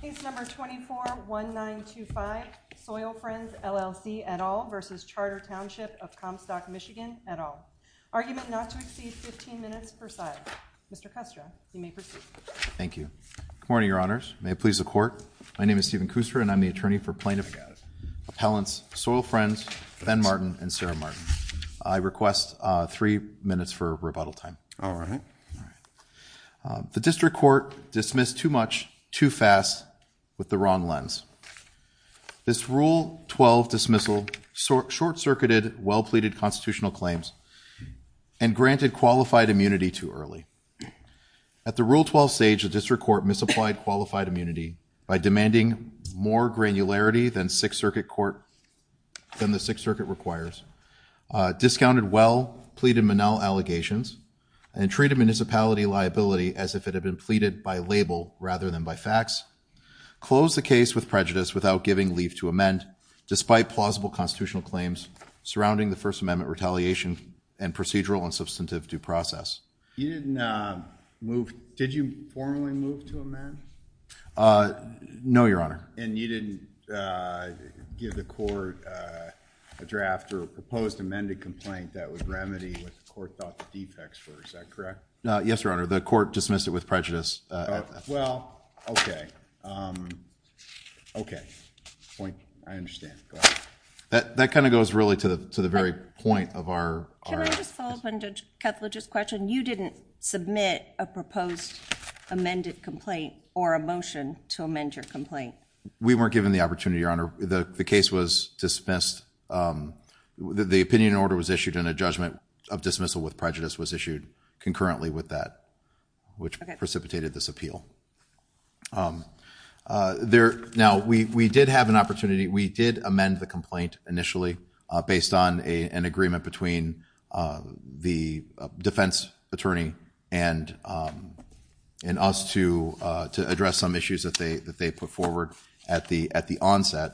Case No. 241925 Soil Friends, LLC, et al. v. Charter Township of Comstock, MI, et al. Argument not to exceed 15 minutes per side. Mr. Kustra, you may proceed. Thank you. Good morning, Your Honors. May it please the Court. My name is Stephen Kustra and I'm the attorney for plaintiff appellants Soil Friends, Ben Martin, and Sarah Martin. I request three minutes for rebuttal time. All right. The district court dismissed too much, too fast, with the wrong lens. This Rule 12 dismissal short-circuited well-pleaded constitutional claims and granted qualified immunity too early. At the Rule 12 stage, the district court misapplied qualified immunity by demanding more granularity than the Sixth Circuit requires, discounted well-pleaded Monell allegations, and treated municipality liability as if it had been pleaded by label rather than by fax, closed the case with prejudice without giving leave to amend despite plausible constitutional claims surrounding the First Amendment retaliation and procedural and substantive due process. You didn't move. Did you formally move to amend? No, Your Honor. And you didn't give the court a draft or a proposed amended complaint that would remedy what the court thought the defects were. Is that correct? No. Yes, Your Honor. The court dismissed it with prejudice. Well, okay. Okay. Point. I understand. Go ahead. That kind of goes really to the very point of our— Can I just follow up on Judge Ketla's question? You didn't submit a proposed amended complaint or a motion to amend your complaint. We weren't given the opportunity, Your Honor. The case was dismissed. The opinion order was issued and a judgment of dismissal with prejudice was issued concurrently with that, which precipitated this appeal. Now, we did have an opportunity. We did amend the complaint initially based on an agreement between the defense attorney and us to address some issues that they put forward at the onset.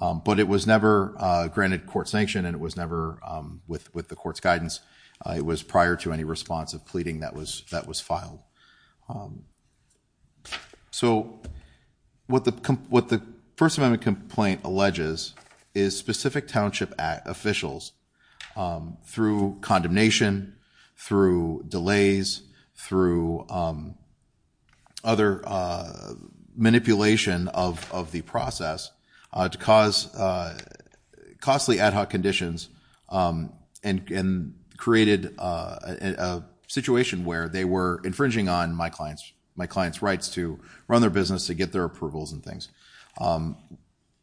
But it was never granted court sanction and it was never with the court's guidance. It was prior to any response of pleading that was filed. So, what the First Amendment complaint alleges is specific township officials, through condemnation, through delays, through other manipulation of the process, to cause costly ad hoc conditions and created a situation where they were infringing on my client's rights to run their business, to get their approvals and things.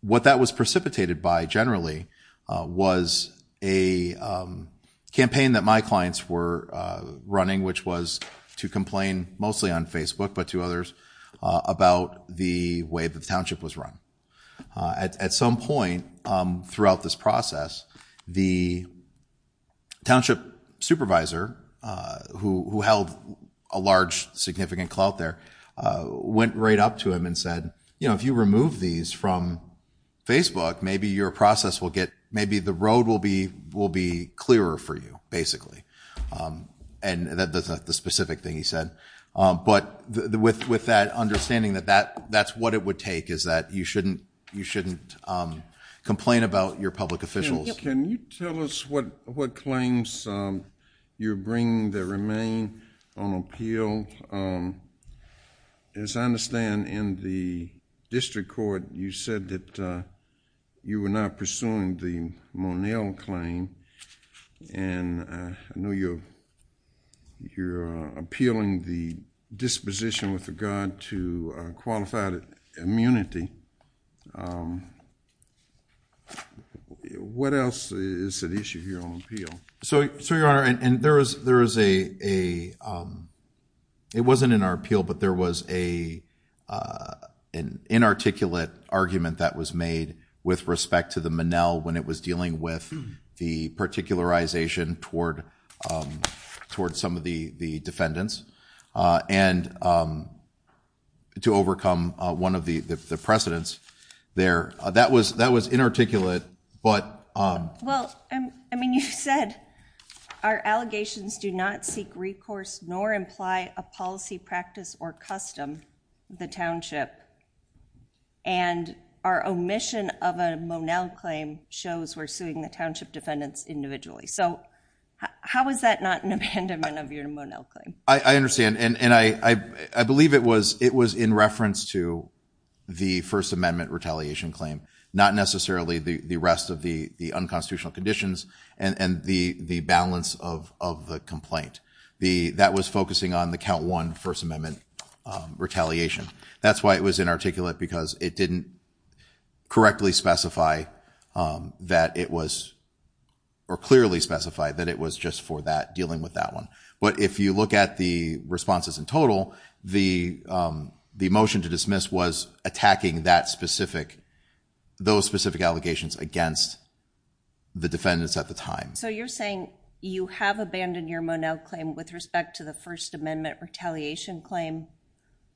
What that was precipitated by, generally, was a campaign that my clients were running, which was to complain mostly on Facebook but to others about the way the township was run. At some point throughout this process, the township supervisor, who held a large, significant clout there, went right up to him and said, you know, if you remove these from Facebook, maybe your process will get, maybe the road will be clearer for you, basically. And that's not the specific thing he said. But with that understanding that that's what it would take is that you shouldn't complain about your public officials. Can you tell us what claims you're bringing that remain on appeal? As I understand, in the district court, you said that you were not pursuing the Monell claim. And I know you're appealing the disposition with regard to qualified immunity. What else is at issue here on appeal? So, Your Honor, and there is a, it wasn't in our appeal, but there was an inarticulate argument that was made with respect to the Monell when it was dealing with the particularization toward some of the defendants and to overcome one of the precedents there. That was inarticulate, but... Well, I mean, you said, our allegations do not seek recourse nor imply a policy practice or custom, the township. And our omission of a Monell claim shows we're suing the township defendants individually. So, how is that not an abandonment of your Monell claim? I understand, and I believe it was in reference to the First Amendment retaliation claim, not necessarily the rest of the unconstitutional conditions and the balance of the complaint. That was focusing on the count one First Amendment retaliation. That's why it was inarticulate, because it didn't correctly specify that it was, or clearly specify that it was just for that, dealing with that one. But if you look at the responses in total, the motion to dismiss was attacking that specific, those specific allegations against the defendants at the time. So, you're saying you have abandoned your Monell claim with respect to the First Amendment retaliation claim,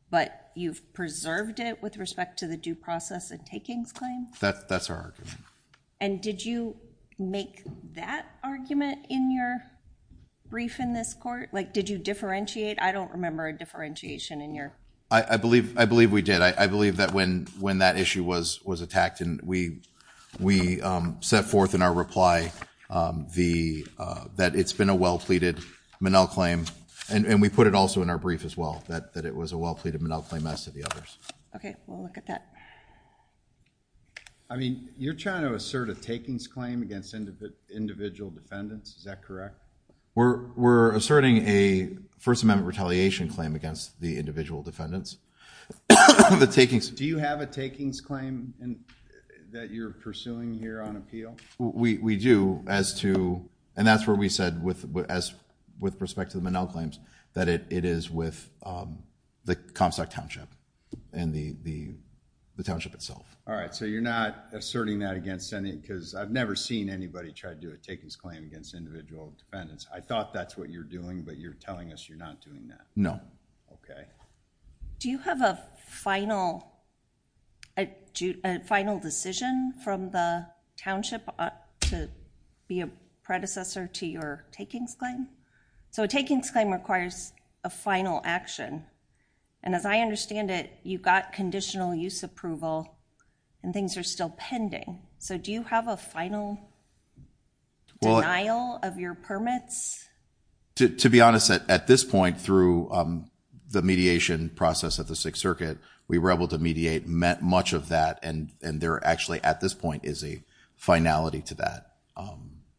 but you've preserved it with respect to the due process and takings claim? That's our argument. And did you make that argument in your brief in this court? Like, did you differentiate? I don't remember a differentiation in your... I believe we did. I believe that when that issue was attacked, and we set forth in our reply that it's been a well-pleaded Monell claim. And we put it also in our brief as well, that it was a well-pleaded Monell claim as to the others. Okay, we'll look at that. I mean, you're trying to assert a takings claim against individual defendants. Is that correct? We're asserting a First Amendment retaliation claim against the individual defendants. Do you have a takings claim that you're pursuing here on appeal? We do, as to... And that's where we said, with respect to the Monell claims, that it is with the Comstock Township and the Township itself. All right, so you're not asserting that against any... Because I've never seen anybody try to do a takings claim against individual defendants. I thought that's what you're doing, but you're telling us you're not doing that. No. Okay. Do you have a final decision from the Township to be a predecessor to your takings claim? So a takings claim requires a final action. And as I understand it, you got conditional use approval and things are still pending. So do you have a final denial of your permits? To be honest, at this point, through the mediation process at the Sixth Circuit, we were able to mediate much of that. And there actually, at this point, is a finality to that.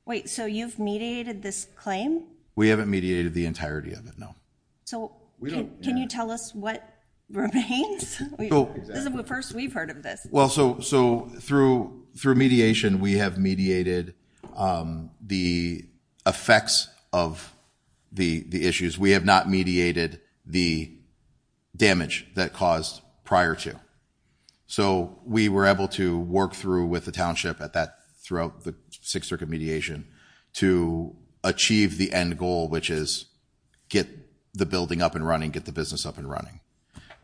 Wait, so you've mediated this claim? We haven't mediated the entirety of it, no. So can you tell us what remains? This is the first we've heard of this. So through mediation, we have mediated the effects of the issues. We have not mediated the damage that caused prior to. So we were able to work through with the Township at that... Throughout the Sixth Circuit mediation to achieve the end goal, which is get the building up and running, get the business up and running.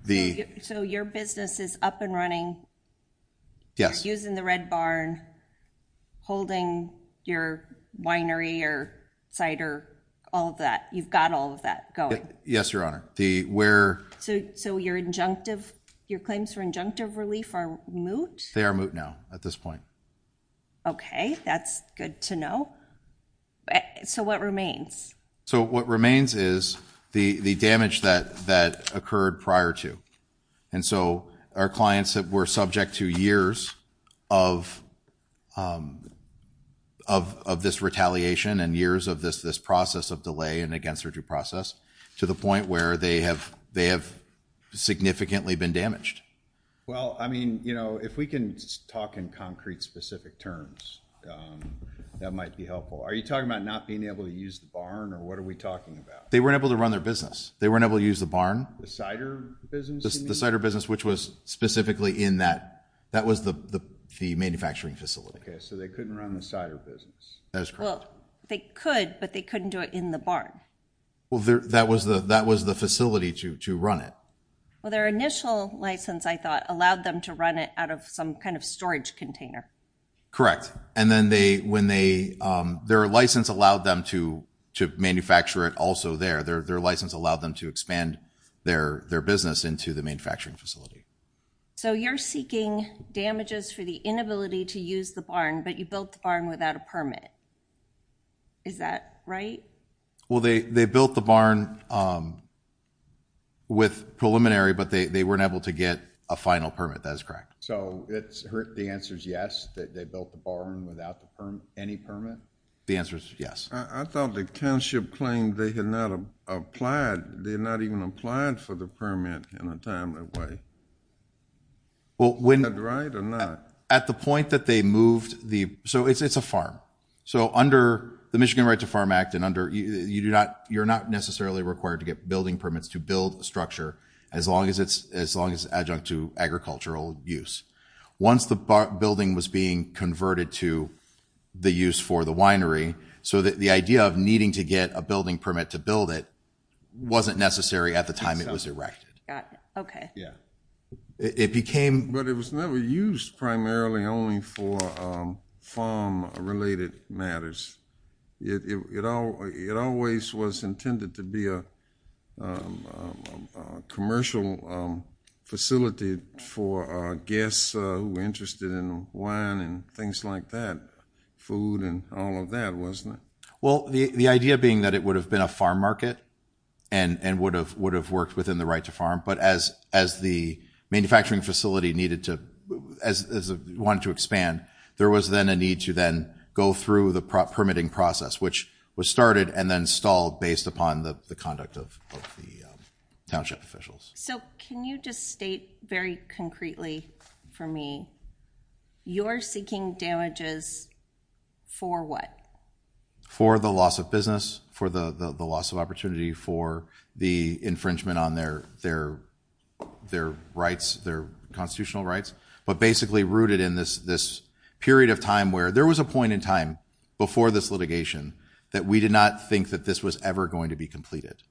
The... So your business is up and running? Yes. Using the Red Barn, holding your winery or cider, all of that. You've got all of that going? Yes, Your Honor. The where... So your injunctive, your claims for injunctive relief are moot? They are moot now, at this point. Okay, that's good to know. So what remains? So what remains is the damage that occurred prior to. And so our clients that were subject to years of this retaliation and years of this process of delay and against their due process to the point where they have significantly been damaged. Well, I mean, if we can talk in concrete, specific terms, that might be helpful. Are you talking about not being able to use the barn? Or what are we talking about? They weren't able to run their business. They weren't able to use the barn. The cider business? The cider business, which was specifically in that... That was the manufacturing facility. Okay, so they couldn't run the cider business. That is correct. Well, they could, but they couldn't do it in the barn. Well, that was the facility to run it. Well, their initial license, I thought, allowed them to run it out of some kind of storage container. Correct. And then their license allowed them to manufacture it also there. Their license allowed them to expand their business into the manufacturing facility. So you're seeking damages for the inability to use the barn, but you built the barn without a permit. Is that right? Well, they built the barn with preliminary, but they weren't able to get a final permit. That is correct. So the answer is yes. They built the barn without any permit? The answer is yes. I thought the township claimed they had not applied. They had not even applied for the permit in a timely way. Well, when... Is that right or not? At the point that they moved the... So it's a farm. So under the Michigan Right to Farm Act, you're not necessarily required to get building permits to build a structure as long as it's adjunct to agricultural use. Once the building was being converted to the use for the winery, so that the idea of needing to get a building permit to build it wasn't necessary at the time it was erected. Okay. Yeah. It became... But it was never used primarily only for farm-related matters. It always was intended to be a commercial facility for guests who were interested in wine and things like that, food and all of that, wasn't it? Well, the idea being that it would have been a farm market and would have worked within the right to farm. But as the manufacturing facility wanted to expand, there was then a need to then go through the permitting process, which was started and then stalled based upon the conduct of the township officials. So can you just state very concretely for me, you're seeking damages for what? For the loss of business, for the loss of opportunity, for the infringement on their constitutional rights. But basically rooted in this period of time where there was a point in time before this litigation that we did not think that this was ever going to be completed.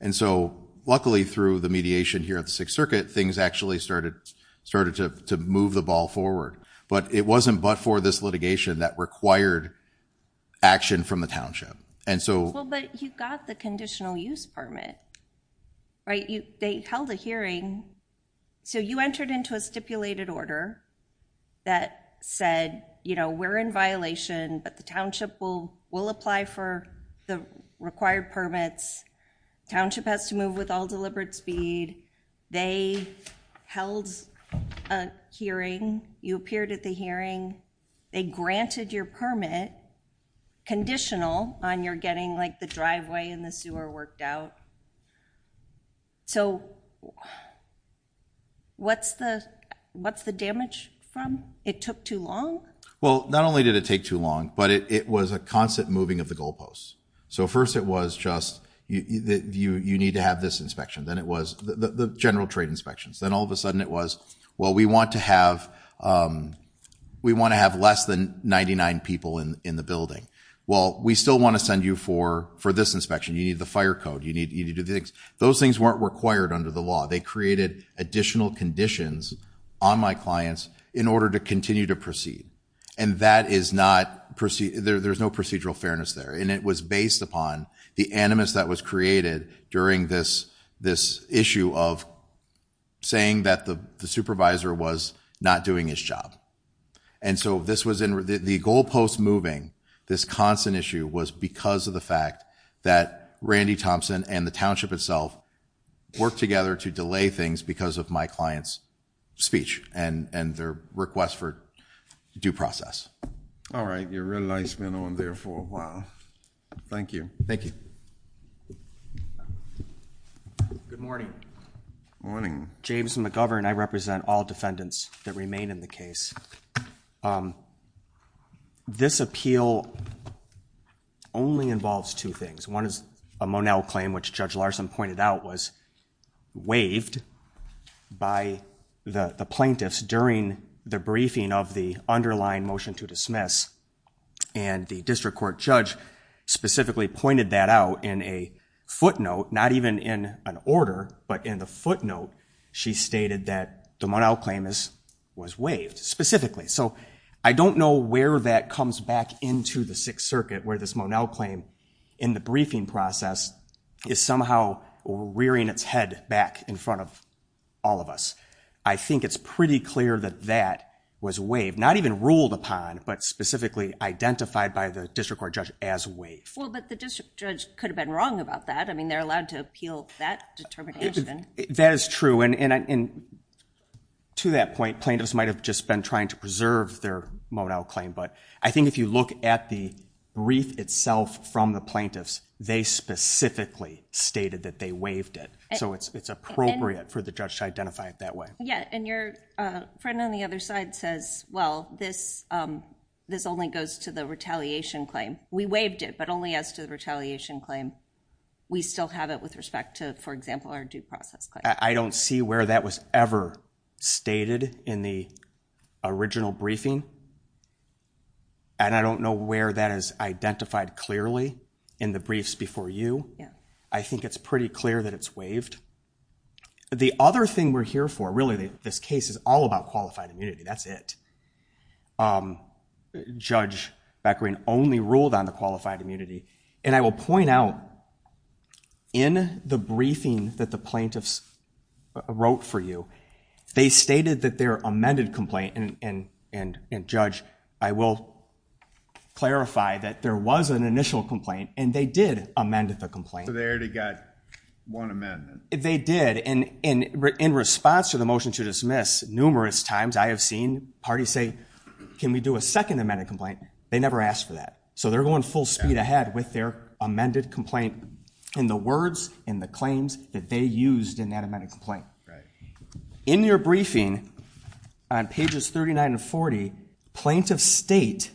And so luckily through the mediation here at the Sixth Circuit, things actually started to move the ball forward. But it wasn't but for this litigation that required action from the township. And so... Well, but you got the conditional use permit, right? They held a hearing. So you entered into a stipulated order that said, you know, we're in violation, but the township will apply for the required permits. Township has to move with all deliberate speed. They held a hearing. You appeared at the hearing. They granted your permit conditional on your getting like the driveway and the sewer worked out. So what's the damage from? It took too long? Well, not only did it take too long, but it was a constant moving of the goalposts. So first it was just you need to have this inspection. Then it was the general trade inspections. Then all of a sudden it was, well, we want to have less than 99 people in the building. Well, we still want to send you for this inspection. You need the fire code. You need to do the things. Those things weren't required under the law. They created additional conditions on my clients in order to continue to proceed. And that is not proceed. There's no procedural fairness there. And it was based upon the animus that was created during this issue of saying that the supervisor was not doing his job. And so this was in the goalposts moving. This constant issue was because of the fact that Randy Thompson and the township itself worked together to delay things because of my client's speech and their request for due process. All right. Your real life's been on there for a while. Thank you. Thank you. Good morning. Morning. James McGovern. I represent all defendants that remain in the case. This appeal only involves two things. One is a Monell claim, which Judge Larson pointed out was waived by the plaintiffs during the briefing of the underlying motion to dismiss. And the district court judge specifically pointed that out in a footnote, not even in an order, but in the footnote, she stated that the Monell claim was waived. Specifically. So I don't know where that comes back into the Sixth Circuit, where this Monell claim in the briefing process is somehow rearing its head back in front of all of us. I think it's pretty clear that that was waived, not even ruled upon, but specifically identified by the district court judge as waived. Well, but the district judge could have been wrong about that. I mean, they're allowed to appeal that determination. That is true. And to that point, plaintiffs might have just been trying to preserve their Monell claim. But I think if you look at the brief itself from the plaintiffs, they specifically stated that they waived it. So it's appropriate for the judge to identify it that way. Yeah. And your friend on the other side says, well, this only goes to the retaliation claim. We waived it, but only as to the retaliation claim. We still have it with respect to, for example, our due process claim. I don't see where that was ever stated in the original briefing. And I don't know where that is identified clearly in the briefs before you. I think it's pretty clear that it's waived. The other thing we're here for, really, this case is all about qualified immunity. That's it. Judge Beckering only ruled on the qualified immunity. And I will point out, in the briefing that the plaintiffs wrote for you, they stated that their amended complaint. And Judge, I will clarify that there was an initial complaint. And they did amend the complaint. So they already got one amendment. They did. And in response to the motion to dismiss, numerous times I have seen parties say, can we do a second amended complaint? They never asked for that. So they're going full speed ahead with their amended complaint in the words and the claims that they used in that amended complaint. In your briefing, on pages 39 and 40, plaintiffs state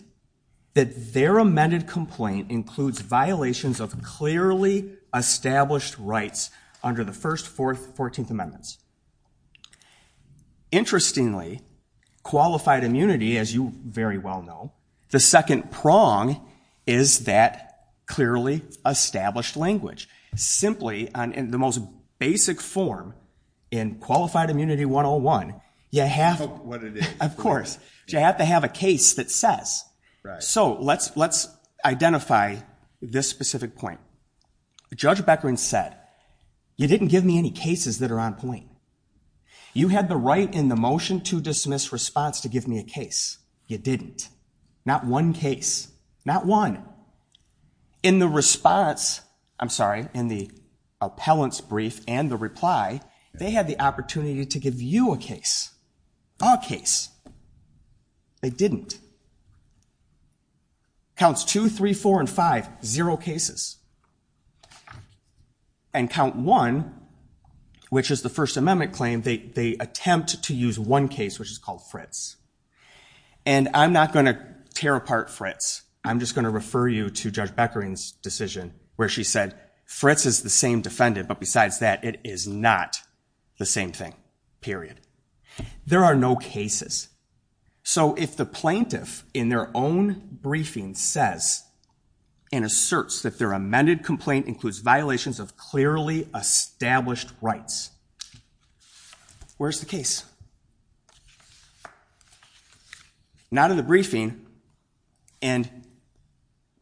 that their amended complaint includes violations of clearly established rights under the first, fourth, 14th amendments. Interestingly, qualified immunity, as you very well know, the second prong is that clearly established language. Simply, in the most basic form, in qualified immunity 101, you have to have a case that says. So let's identify this specific point. Judge Beckering said, you didn't give me any cases that are on point. You had the right in the motion to dismiss response to give me a case. You didn't. Not one case. Not one. In the response, I'm sorry, in the appellant's brief and the reply, they had the opportunity to give you a case. A case. They didn't. Counts two, three, four, and five. Zero cases. And count one, which is the first amendment claim, they attempt to use one case, which is called Fritz. And I'm not going to tear apart Fritz. I'm just going to refer you to Judge Beckering's decision where she said, Fritz is the same defendant. But besides that, it is not the same thing, period. There are no cases. So if the plaintiff, in their own briefing, says and asserts that their amended complaint includes violations of clearly established rights, where's the case? It's not in the briefing. And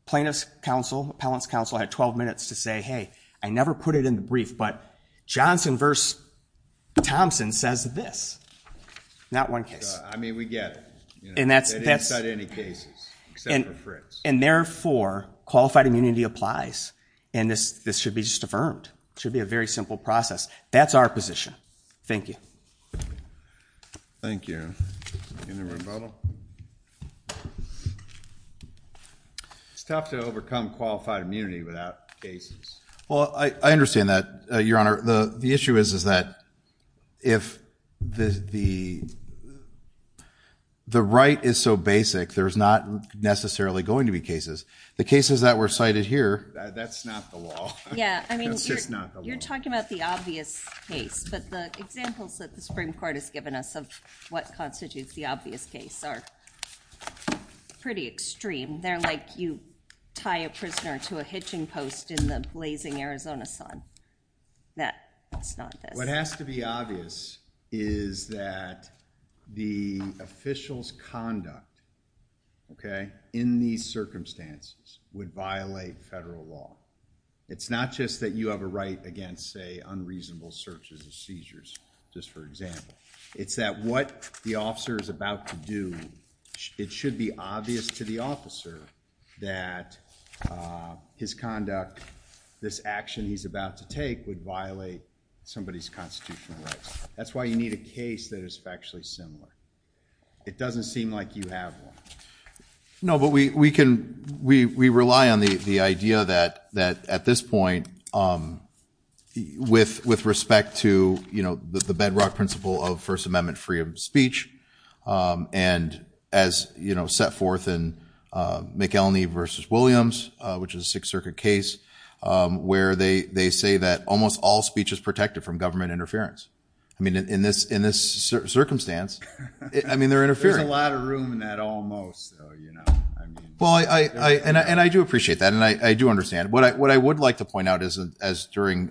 plaintiff's counsel, appellant's counsel, had 12 minutes to say, hey, I never put it in the brief, but Johnson versus Thompson says this. Not one case. I mean, we get it. And that's. They didn't cite any cases, except for Fritz. And therefore, qualified immunity applies. And this should be just affirmed. It should be a very simple process. That's our position. Thank you. Thank you. Any rebuttal? It's tough to overcome qualified immunity without cases. Well, I understand that, Your Honor. The issue is that if the right is so basic, there's not necessarily going to be cases. The cases that were cited here. That's not the law. Yeah. I mean, you're talking about the obvious case. But the examples that the Supreme Court has given us of what constitutes the obvious case are pretty extreme. They're like you tie a prisoner to a hitching post in the blazing Arizona sun. That's not this. What has to be obvious is that the official's conduct, OK, in these circumstances would violate federal law. It's not just that you have a right against, say, unreasonable searches and seizures, just for example. It's that what the officer is about to do, it should be obvious to the officer that his conduct, this action he's about to take, would violate somebody's constitutional rights. That's why you need a case that is factually similar. It doesn't seem like you have one. No, but we rely on the idea that at this point, with respect to the bedrock principle of First Amendment freedom of speech, and as set forth in McElney v. Williams, which is a Sixth Circuit case, where they say that almost all speech is protected from government interference. I mean, in this circumstance, I mean, they're interfering. There's a lot of room in that almost, though, you know, I mean. Well, and I do appreciate that, and I do understand. But what I would like to point out is, as during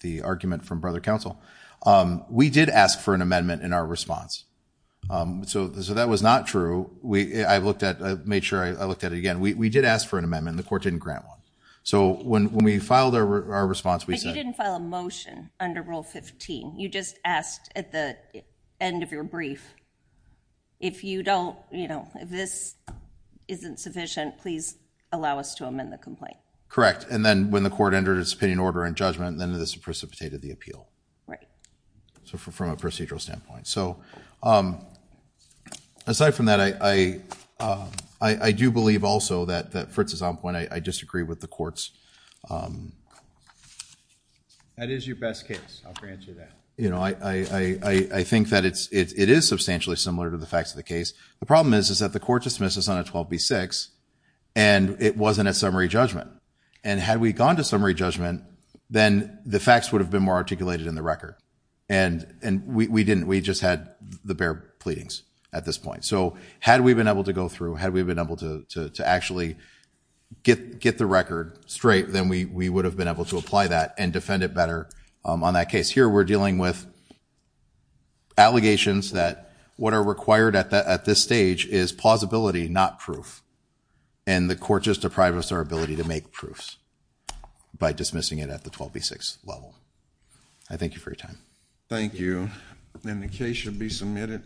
the argument from Brother Counsel, we did ask for an amendment in our response. So that was not true. I've looked at it, made sure I looked at it again. We did ask for an amendment, and the court didn't grant one. So when we filed our response, we said— But you didn't file a motion under Rule 15. You just asked at the end of your brief. If you don't, you know, if this isn't sufficient, please allow us to amend the complaint. And then when the court entered its opinion, order, and judgment, then this precipitated the appeal. Right. So from a procedural standpoint. So aside from that, I do believe also that, for its own point, I disagree with the courts. That is your best case. I'll grant you that. You know, I think that it is substantially similar to the facts of the case. The problem is, is that the court dismisses on a 12b-6, and it wasn't a summary judgment. And had we gone to summary judgment, then the facts would have been more articulated in the record. And we didn't. We just had the bare pleadings at this point. So had we been able to go through, had we been able to actually get the record straight, then we would have been able to apply that and defend it better on that case. Here, we're dealing with allegations that what are required at this stage is plausibility, not proof. And the court just deprived us our ability to make proofs by dismissing it at the 12b-6 level. I thank you for your time. Thank you. And the case should be submitted.